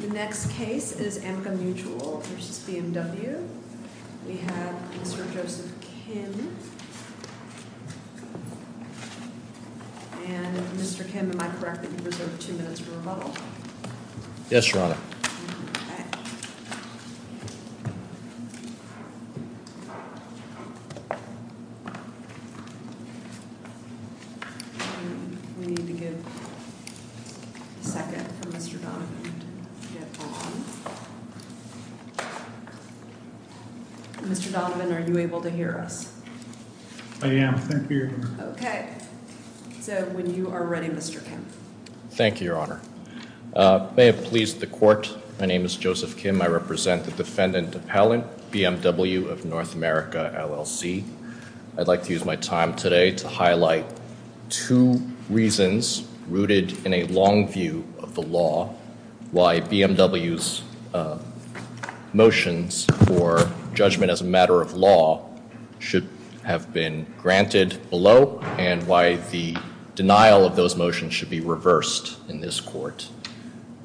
The next case is Amica Mutual v. BMW. We have Mr. Joseph Kim. And Mr. Kim, am I correct that you reserved two minutes for rebuttal? Yes, Your Honor. Okay. We need to give a second for Mr. Donovan to get on. Mr. Donovan, are you able to hear us? I am. Thank you, Your Honor. Okay. So when you are ready, Mr. Kim. Thank you, Your Honor. May it please the Court, my name is Joseph Kim. I represent the defendant appellant, BMW of North America, LLC. I'd like to use my time today to highlight two reasons rooted in a long view of the law, why BMW's motions for judgment as a matter of law should have been granted below and why the denial of those motions should be reversed in this Court.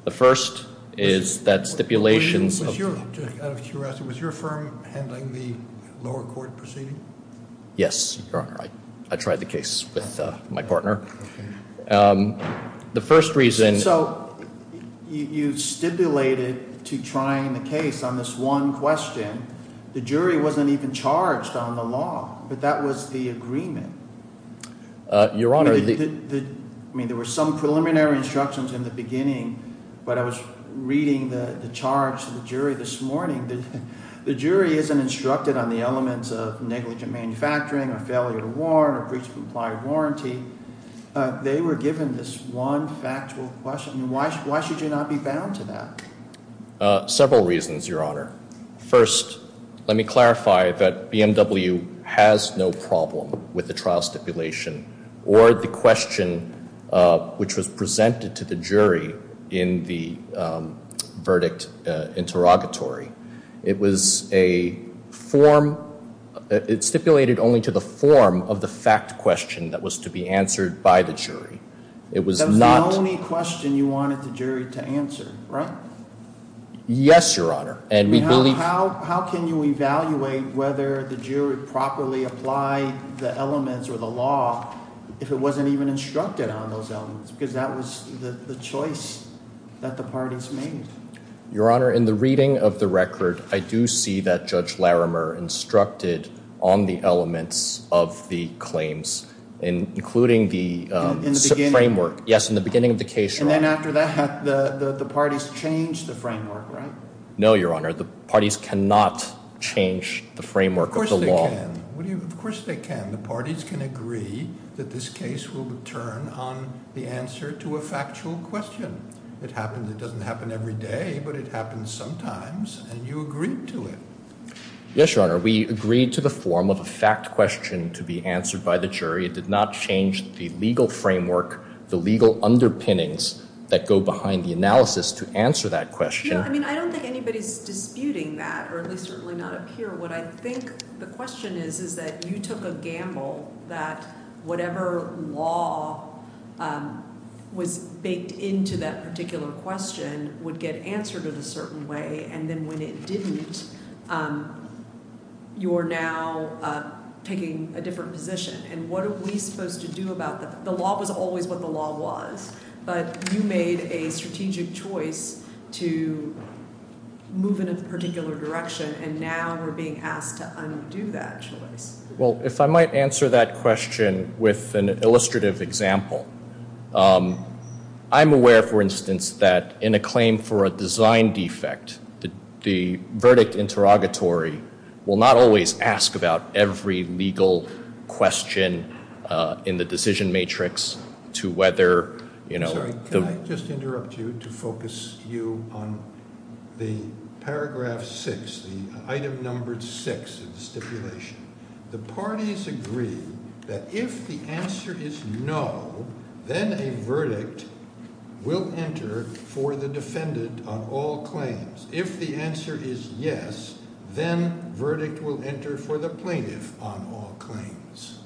The first is that stipulations of- Out of curiosity, was your firm handling the lower court proceeding? Yes, Your Honor. I tried the case with my partner. The first reason- So you stipulated to trying the case on this one question. The jury wasn't even charged on the law, but that was the agreement. Your Honor- I mean, there were some preliminary instructions in the beginning, but I was reading the charge to the jury this morning. The jury isn't instructed on the elements of negligent manufacturing, a failure to warrant, or breach of implied warranty. They were given this one factual question. Why should you not be bound to that? Several reasons, Your Honor. First, let me clarify that BMW has no problem with the trial stipulation or the question which was presented to the jury in the verdict interrogatory. It was a form-it stipulated only to the form of the fact question that was to be answered by the jury. It was not- That was the only question you wanted the jury to answer, right? Yes, Your Honor. And we believe- How can you evaluate whether the jury properly applied the elements or the law if it wasn't even instructed on those elements? Because that was the choice that the parties made. Your Honor, in the reading of the record, I do see that Judge Larimer instructed on the elements of the claims, including the framework- Yes, in the beginning of the case, Your Honor. And after that, the parties changed the framework, right? No, Your Honor. The parties cannot change the framework of the law. Of course they can. Of course they can. The parties can agree that this case will turn on the answer to a factual question. It happens. It doesn't happen every day, but it happens sometimes, and you agreed to it. Yes, Your Honor. We agreed to the form of a fact question to be answered by the jury. It did not change the legal framework, the legal underpinnings, that go behind the analysis to answer that question. I don't think anybody's disputing that, or at least certainly not up here. What I think the question is is that you took a gamble that whatever law was baked into that particular question would get answered in a certain way, and then when it didn't, you're now taking a different position. And what are we supposed to do about that? The law was always what the law was, but you made a strategic choice to move in a particular direction, and now we're being asked to undo that choice. Well, if I might answer that question with an illustrative example. I'm aware, for instance, that in a claim for a design defect, the verdict interrogatory will not always ask about every legal question in the decision matrix to whether- Sorry, can I just interrupt you to focus you on the paragraph six, the item number six of the stipulation? The parties agree that if the answer is no, then a verdict will enter for the defendant on all claims. If the answer is yes, then verdict will enter for the plaintiff on all claims.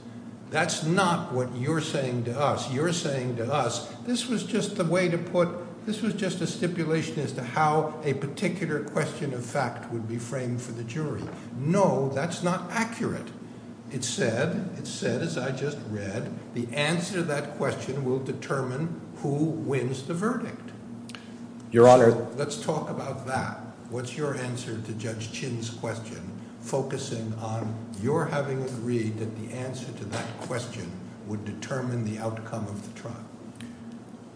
That's not what you're saying to us. You're saying to us, this was just the way to put- This was just a stipulation as to how a particular question of fact would be framed for the jury. No, that's not accurate. It said, as I just read, the answer to that question will determine who wins the verdict. Your Honor- Let's talk about that. What's your answer to Judge Chin's question, focusing on your having agreed that the answer to that question would determine the outcome of the trial?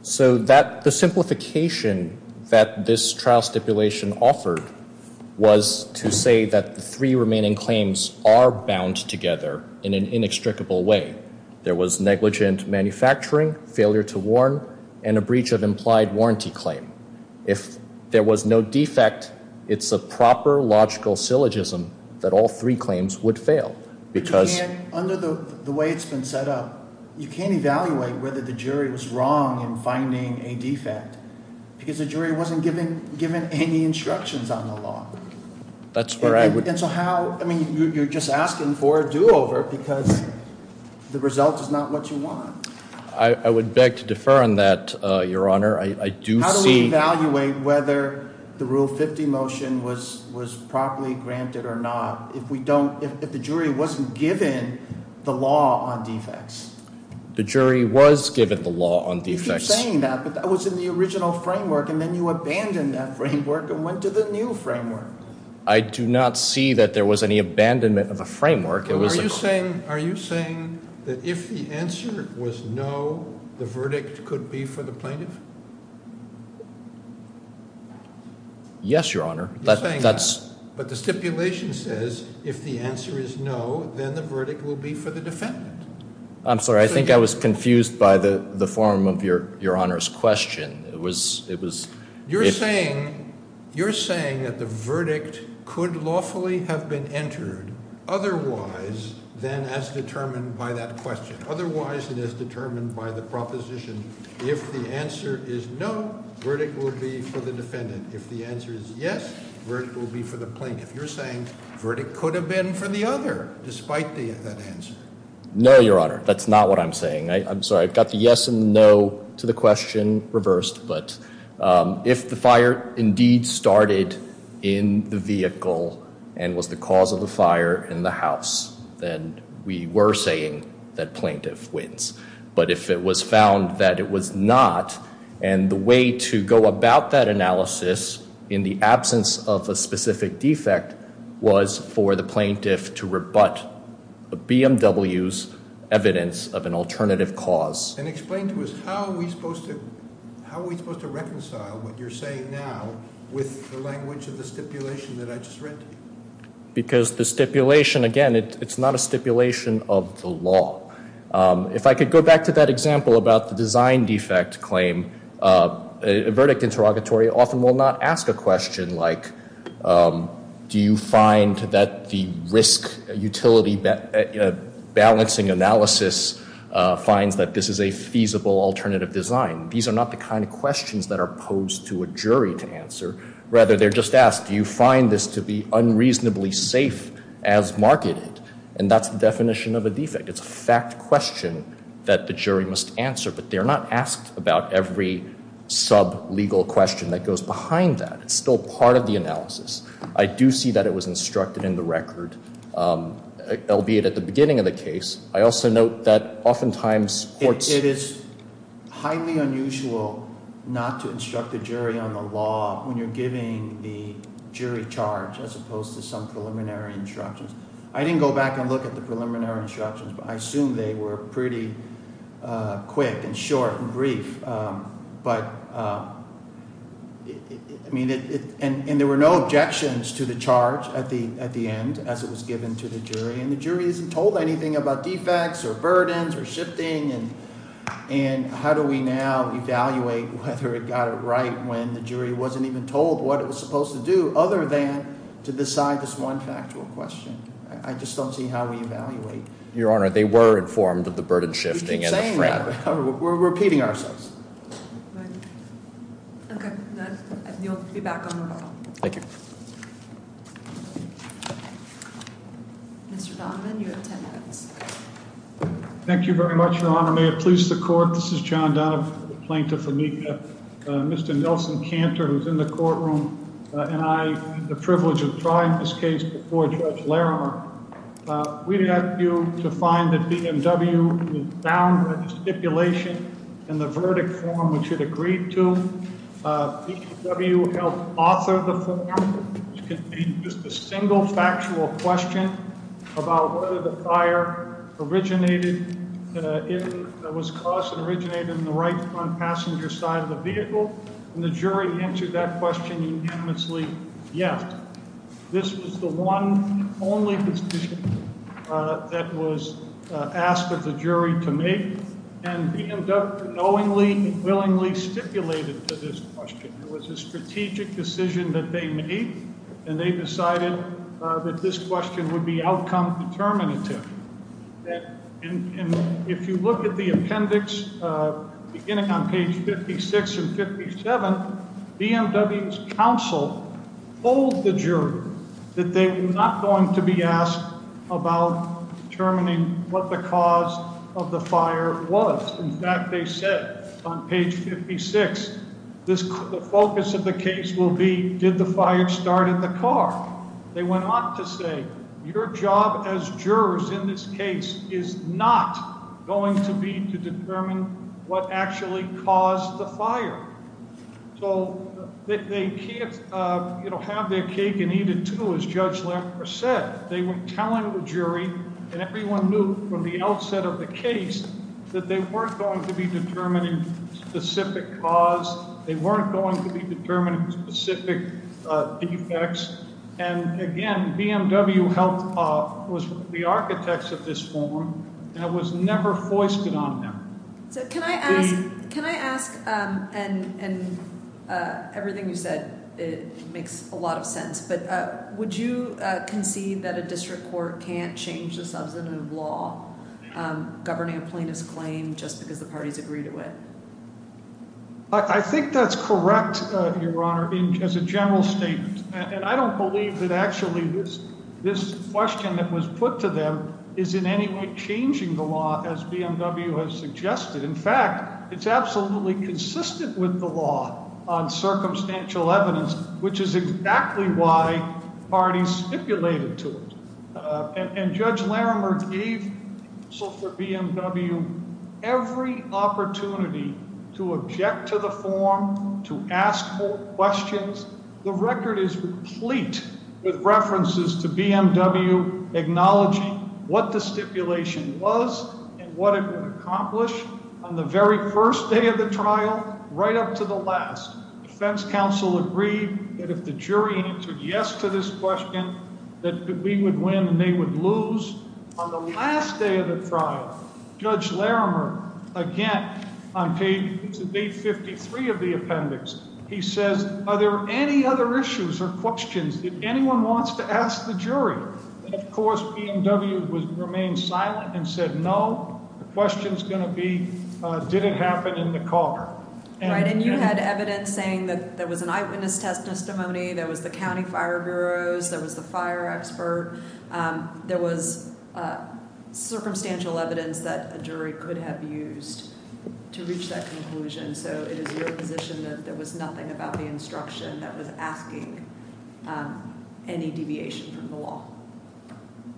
So the simplification that this trial stipulation offered was to say that the three remaining claims are bound together in an inextricable way. There was negligent manufacturing, failure to warn, and a breach of implied warranty claim. If there was no defect, it's a proper logical syllogism that all three claims would fail because- The jury was wrong in finding a defect because the jury wasn't given any instructions on the law. That's where I would- And so how- I mean, you're just asking for a do-over because the result is not what you want. I would beg to defer on that, Your Honor. I do see- How do we evaluate whether the Rule 50 motion was properly granted or not if we don't- if the jury wasn't given the law on defects? The jury was given the law on defects. You keep saying that, but that was in the original framework, and then you abandoned that framework and went to the new framework. I do not see that there was any abandonment of a framework. It was- Are you saying that if the answer was no, the verdict could be for the plaintiff? Yes, Your Honor. That's- You're saying that, but the stipulation says if the answer is no, then the verdict will be for the defendant. I'm sorry. I think I was confused by the form of Your Honor's question. It was- You're saying that the verdict could lawfully have been entered otherwise than as determined by that question. Otherwise than as determined by the proposition, if the answer is no, verdict will be for the defendant. If the answer is yes, verdict will be for the plaintiff. You're saying verdict could have been for the other despite that answer. No, Your Honor. That's not what I'm saying. I'm sorry. I've got the yes and no to the question reversed, but if the fire indeed started in the vehicle and was the cause of the fire in the house, then we were saying that plaintiff wins. But if it was found that it was not and the way to go about that analysis in the absence of a specific defect was for the plaintiff to rebut BMW's evidence of an alternative cause. And explain to us how are we supposed to reconcile what you're saying now with the language of the stipulation that I just read to you. Because the stipulation, again, it's not a stipulation of the law. If I could go back to that example about the design defect claim, a verdict interrogatory often will not ask a question like, do you find that the risk utility balancing analysis finds that this is a feasible alternative design? These are not the kind of questions that are posed to a jury to answer. Rather, they're just asked, do you find this to be unreasonably safe as marketed? And that's the definition of a defect. It's a fact question that the jury must answer. But they're not asked about every sub-legal question that goes behind that. It's still part of the analysis. I do see that it was instructed in the record, albeit at the beginning of the case. I also note that oftentimes courts- It is highly unusual not to instruct a jury on the law when you're giving the jury charge, as opposed to some preliminary instructions. I didn't go back and look at the preliminary instructions, but I assume they were pretty quick and short and brief. And there were no objections to the charge at the end as it was given to the jury, and the jury isn't told anything about defects or burdens or shifting. And how do we now evaluate whether it got it right when the jury wasn't even told what it was supposed to do, other than to decide this one factual question? I just don't see how we evaluate. Your Honor, they were informed of the burden shifting and the frat. We're repeating ourselves. Okay, then you'll be back on the roll. Thank you. Mr. Donovan, you have ten minutes. Thank you very much, Your Honor. May it please the Court, this is John Donovan, plaintiff for MECA. Mr. Nelson Cantor, who's in the courtroom, and I had the privilege of trying this case before Judge Larimer. We'd like you to find that BMW was bound by the stipulation in the verdict form, which it agreed to. BMW helped author the form, which contained just a single factual question about whether the fire was caused and originated in the right-front passenger side of the vehicle, and the jury answered that question unanimously, yes. This was the one only decision that was asked of the jury to make, and BMW knowingly and willingly stipulated to this question. It was a strategic decision that they made, and they decided that this question would be outcome determinative. And if you look at the appendix beginning on page 56 and 57, BMW's counsel told the jury that they were not going to be asked about determining what the cause of the fire was. In fact, they said on page 56, the focus of the case will be, did the fire start in the car? They went on to say, your job as jurors in this case is not going to be to determine what actually caused the fire. So they can't have their cake and eat it too, as Judge Larimer said. They were telling the jury, and everyone knew from the outset of the case, that they weren't going to be determining specific cause. They weren't going to be determining specific defects. And again, BMW helped the architects of this form, and it was never foisted on them. So can I ask, and everything you said makes a lot of sense, but would you concede that a district court can't change the substantive law governing a plaintiff's claim just because the parties agree to it? I think that's correct, Your Honor, as a general statement. And I don't believe that actually this question that was put to them is in any way changing the law, as BMW has suggested. In fact, it's absolutely consistent with the law on circumstantial evidence, which is exactly why parties stipulated to it. And Judge Larimer gave BMW every opportunity to object to the form, to ask questions. The record is complete with references to BMW acknowledging what the stipulation was and what it would accomplish. On the very first day of the trial, right up to the last, defense counsel agreed that if the jury answered yes to this question, that we would win and they would lose. On the last day of the trial, Judge Larimer, again, on page 53 of the appendix, he says, are there any other issues or questions that anyone wants to ask the jury? Of course, BMW would remain silent and said, no, the question's going to be, did it happen in the car? And you had evidence saying that there was an eyewitness testimony, there was the county fire bureaus, there was the fire expert. There was circumstantial evidence that a jury could have used to reach that conclusion. So it is your position that there was nothing about the instruction that was asking any deviation from the law?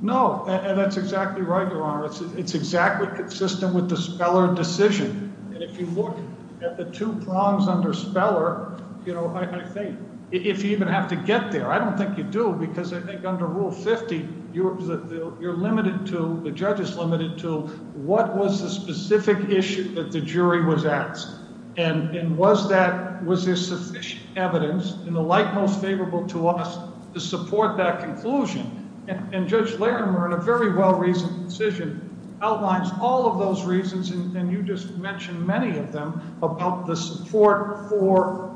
No, and that's exactly right, Your Honor. It's exactly consistent with the Speller decision. And if you look at the two prongs under Speller, you know, I think if you even have to get there, I don't think you do because I think under Rule 50, you're limited to, the judge is limited to, what was the specific issue that the jury was asked? And was there sufficient evidence in the light most favorable to us to support that conclusion? And Judge Larimer, in a very well-reasoned decision, outlines all of those reasons, and you just mentioned many of them, about the support for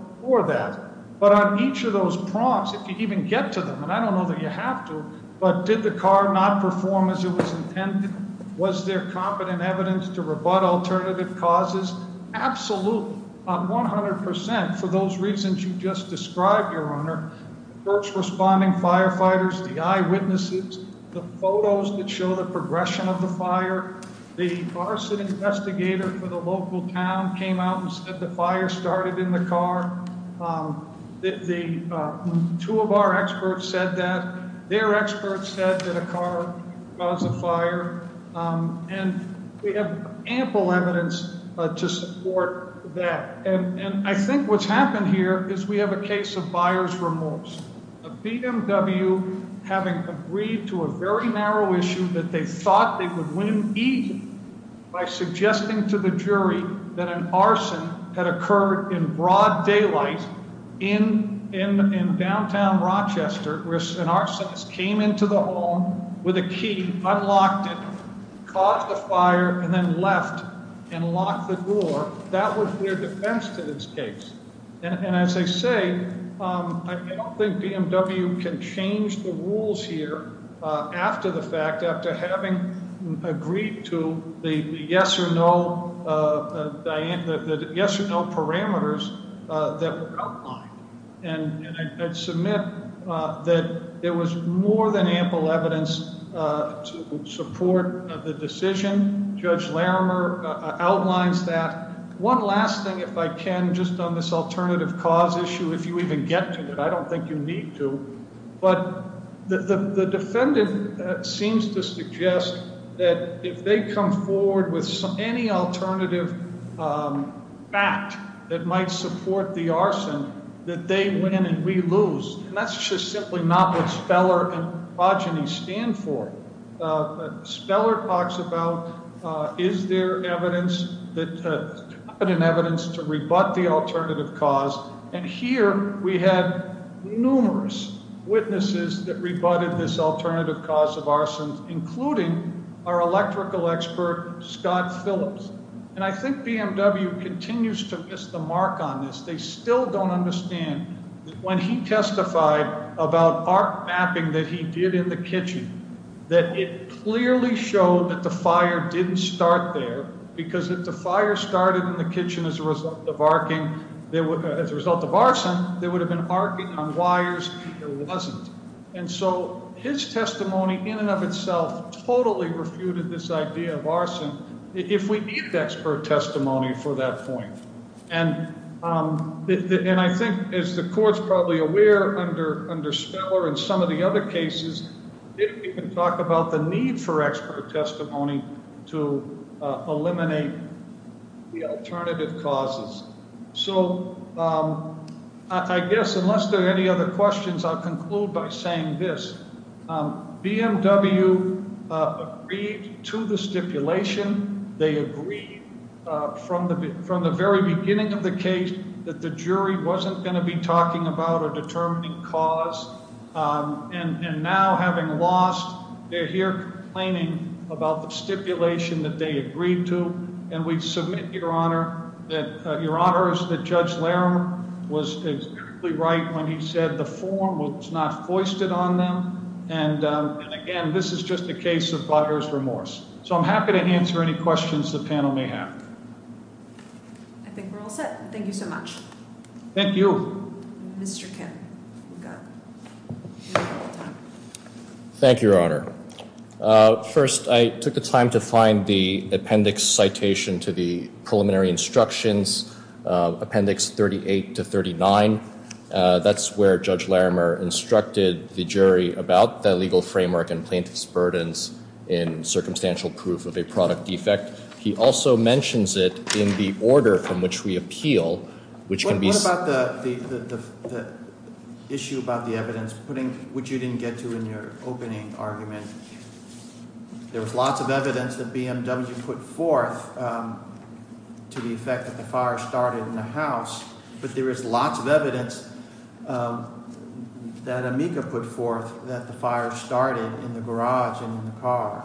that. But on each of those prongs, if you even get to them, and I don't know that you have to, but did the car not perform as it was intended? Was there competent evidence to rebut alternative causes? Absolutely, 100 percent, for those reasons you just described, Your Honor. First responding firefighters, the eyewitnesses, the photos that show the progression of the fire, the arson investigator for the local town came out and said the fire started in the car. Two of our experts said that. Their experts said that a car caused the fire. And we have ample evidence to support that. And I think what's happened here is we have a case of buyer's remorse. A BMW having agreed to a very narrow issue that they thought they would win easily by suggesting to the jury that an arson had occurred in broad daylight in downtown Rochester, where an arsonist came into the home with a key, unlocked it, caught the fire, and then left and locked the door. That was their defense to this case. And as I say, I don't think BMW can change the rules here after the fact, after having agreed to the yes or no parameters that were outlined. And I submit that there was more than ample evidence to support the decision. Judge Larimer outlines that. One last thing, if I can, just on this alternative cause issue, if you even get to it. I don't think you need to. But the defendant seems to suggest that if they come forward with any alternative fact that might support the arson, that they win and we lose. And that's just simply not what Speller and Progeny stand for. Speller talks about is there evidence to rebut the alternative cause, and here we had numerous witnesses that rebutted this alternative cause of arson, including our electrical expert, Scott Phillips. And I think BMW continues to miss the mark on this. They still don't understand that when he testified about arc mapping that he did in the kitchen, that it clearly showed that the fire didn't start there, because if the fire started in the kitchen as a result of arcing, there would have been arcing on wires. It wasn't. And so his testimony in and of itself totally refuted this idea of arson, if we need expert testimony for that point. And I think, as the court's probably aware, under Speller and some of the other cases, they didn't even talk about the need for expert testimony to eliminate the alternative causes. So I guess unless there are any other questions, I'll conclude by saying this. BMW agreed to the stipulation. They agreed from the very beginning of the case that the jury wasn't going to be talking about a determining cause. And now, having lost, they're here complaining about the stipulation that they agreed to. And we submit, Your Honor, that Your Honor, that Judge Laram was right when he said the form was not foisted on them. And, again, this is just a case of buyer's remorse. So I'm happy to answer any questions the panel may have. I think we're all set. Thank you so much. Thank you. Mr. Kim. Thank you, Your Honor. First, I took the time to find the appendix citation to the preliminary instructions, appendix 38 to 39. That's where Judge Laramer instructed the jury about the legal framework and plaintiff's burdens in circumstantial proof of a product defect. He also mentions it in the order from which we appeal, which can be- What about the issue about the evidence, which you didn't get to in your opening argument? There was lots of evidence that BMW put forth to the effect that the fire started in the house. But there is lots of evidence that Amica put forth that the fire started in the garage and in the car.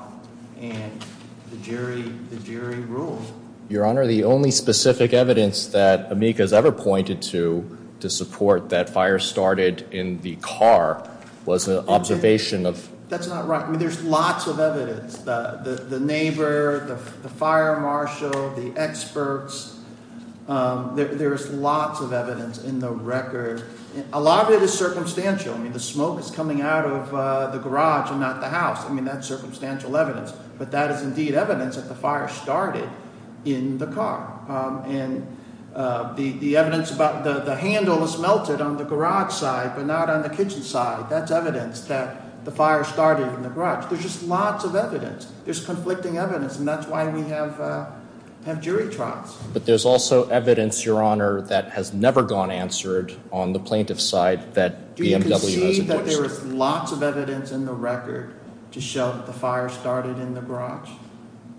And the jury ruled. Your Honor, the only specific evidence that Amica has ever pointed to to support that fire started in the car was an observation of- That's not right. There's lots of evidence. The neighbor, the fire marshal, the experts. There is lots of evidence in the record. A lot of it is circumstantial. I mean, the smoke is coming out of the garage and not the house. I mean, that's circumstantial evidence. But that is indeed evidence that the fire started in the car. And the evidence about the handle is melted on the garage side but not on the kitchen side. That's evidence that the fire started in the garage. There's just lots of evidence. There's conflicting evidence, and that's why we have jury trials. But there's also evidence, Your Honor, that has never gone answered on the plaintiff's side that BMW- Do you concede that there is lots of evidence in the record to show that the fire started in the garage?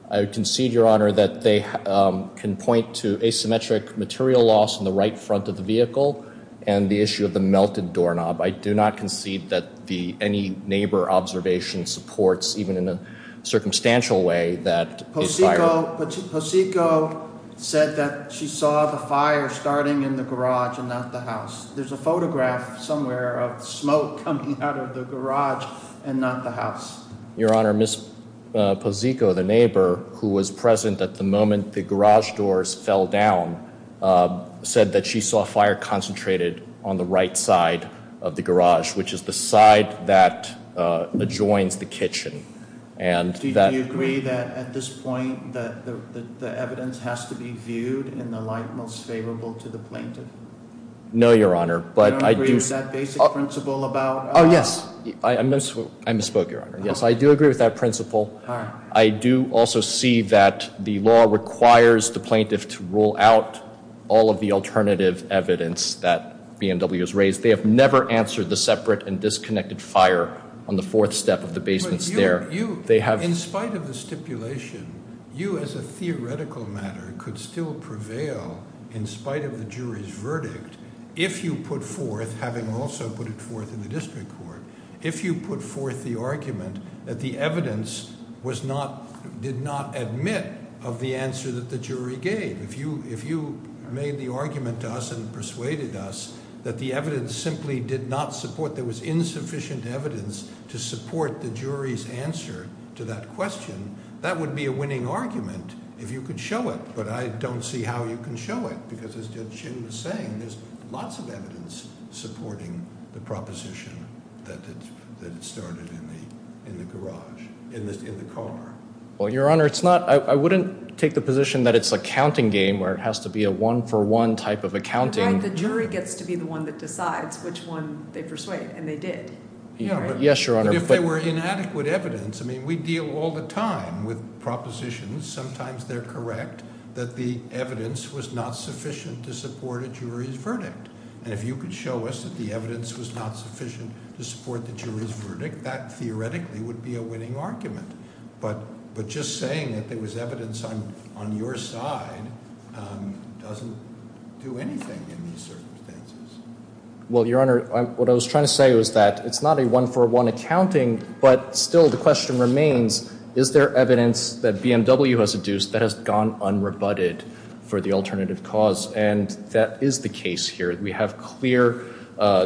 I concede, Your Honor, that they can point to asymmetric material loss in the right front of the vehicle and the issue of the melted doorknob. I do not concede that any neighbor observation supports, even in a circumstantial way, that the fire- Pocico said that she saw the fire starting in the garage and not the house. There's a photograph somewhere of smoke coming out of the garage and not the house. Your Honor, Ms. Pocico, the neighbor, who was present at the moment the garage doors fell down, said that she saw fire concentrated on the right side of the garage, which is the side that adjoins the kitchen. Do you agree that, at this point, the evidence has to be viewed in the light most favorable to the plaintiff? No, Your Honor, but I do- Do you agree with that basic principle about- Yes, I misspoke, Your Honor. Yes, I do agree with that principle. I do also see that the law requires the plaintiff to rule out all of the alternative evidence that BMW has raised. They have never answered the separate and disconnected fire on the fourth step of the basement stair. They have- In spite of the stipulation, you, as a theoretical matter, could still prevail in spite of the jury's verdict if you put forth, having also put it forth in the district court, if you put forth the argument that the evidence did not admit of the answer that the jury gave. If you made the argument to us and persuaded us that the evidence simply did not support- there was insufficient evidence to support the jury's answer to that question, that would be a winning argument if you could show it, but I don't see how you can show it because, as Judge Chin was saying, there's lots of evidence supporting the proposition that it started in the garage, in the car. Well, Your Honor, it's not- I wouldn't take the position that it's a counting game where it has to be a one-for-one type of accounting. Right, the jury gets to be the one that decides which one they persuade, and they did. Yes, Your Honor, but- If there were inadequate evidence, I mean, we deal all the time with propositions. Sometimes they're correct that the evidence was not sufficient to support a jury's verdict, and if you could show us that the evidence was not sufficient to support the jury's verdict, that theoretically would be a winning argument. But just saying that there was evidence on your side doesn't do anything in these circumstances. Well, Your Honor, what I was trying to say was that it's not a one-for-one accounting, but still the question remains, is there evidence that BMW has adduced that has gone unrebutted for the alternative cause? And that is the case here. We have clear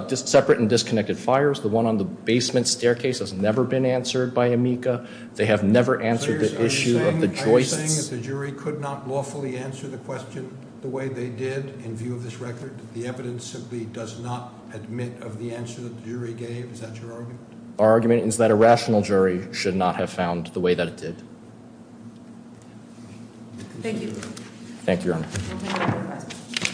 separate and disconnected fires. The one on the basement staircase has never been answered by Amica. They have never answered the issue of the joists. Are you saying that the jury could not lawfully answer the question the way they did in view of this record? The evidence simply does not admit of the answer that the jury gave? Is that your argument? Our argument is that a rational jury should not have found the way that it did. Thank you.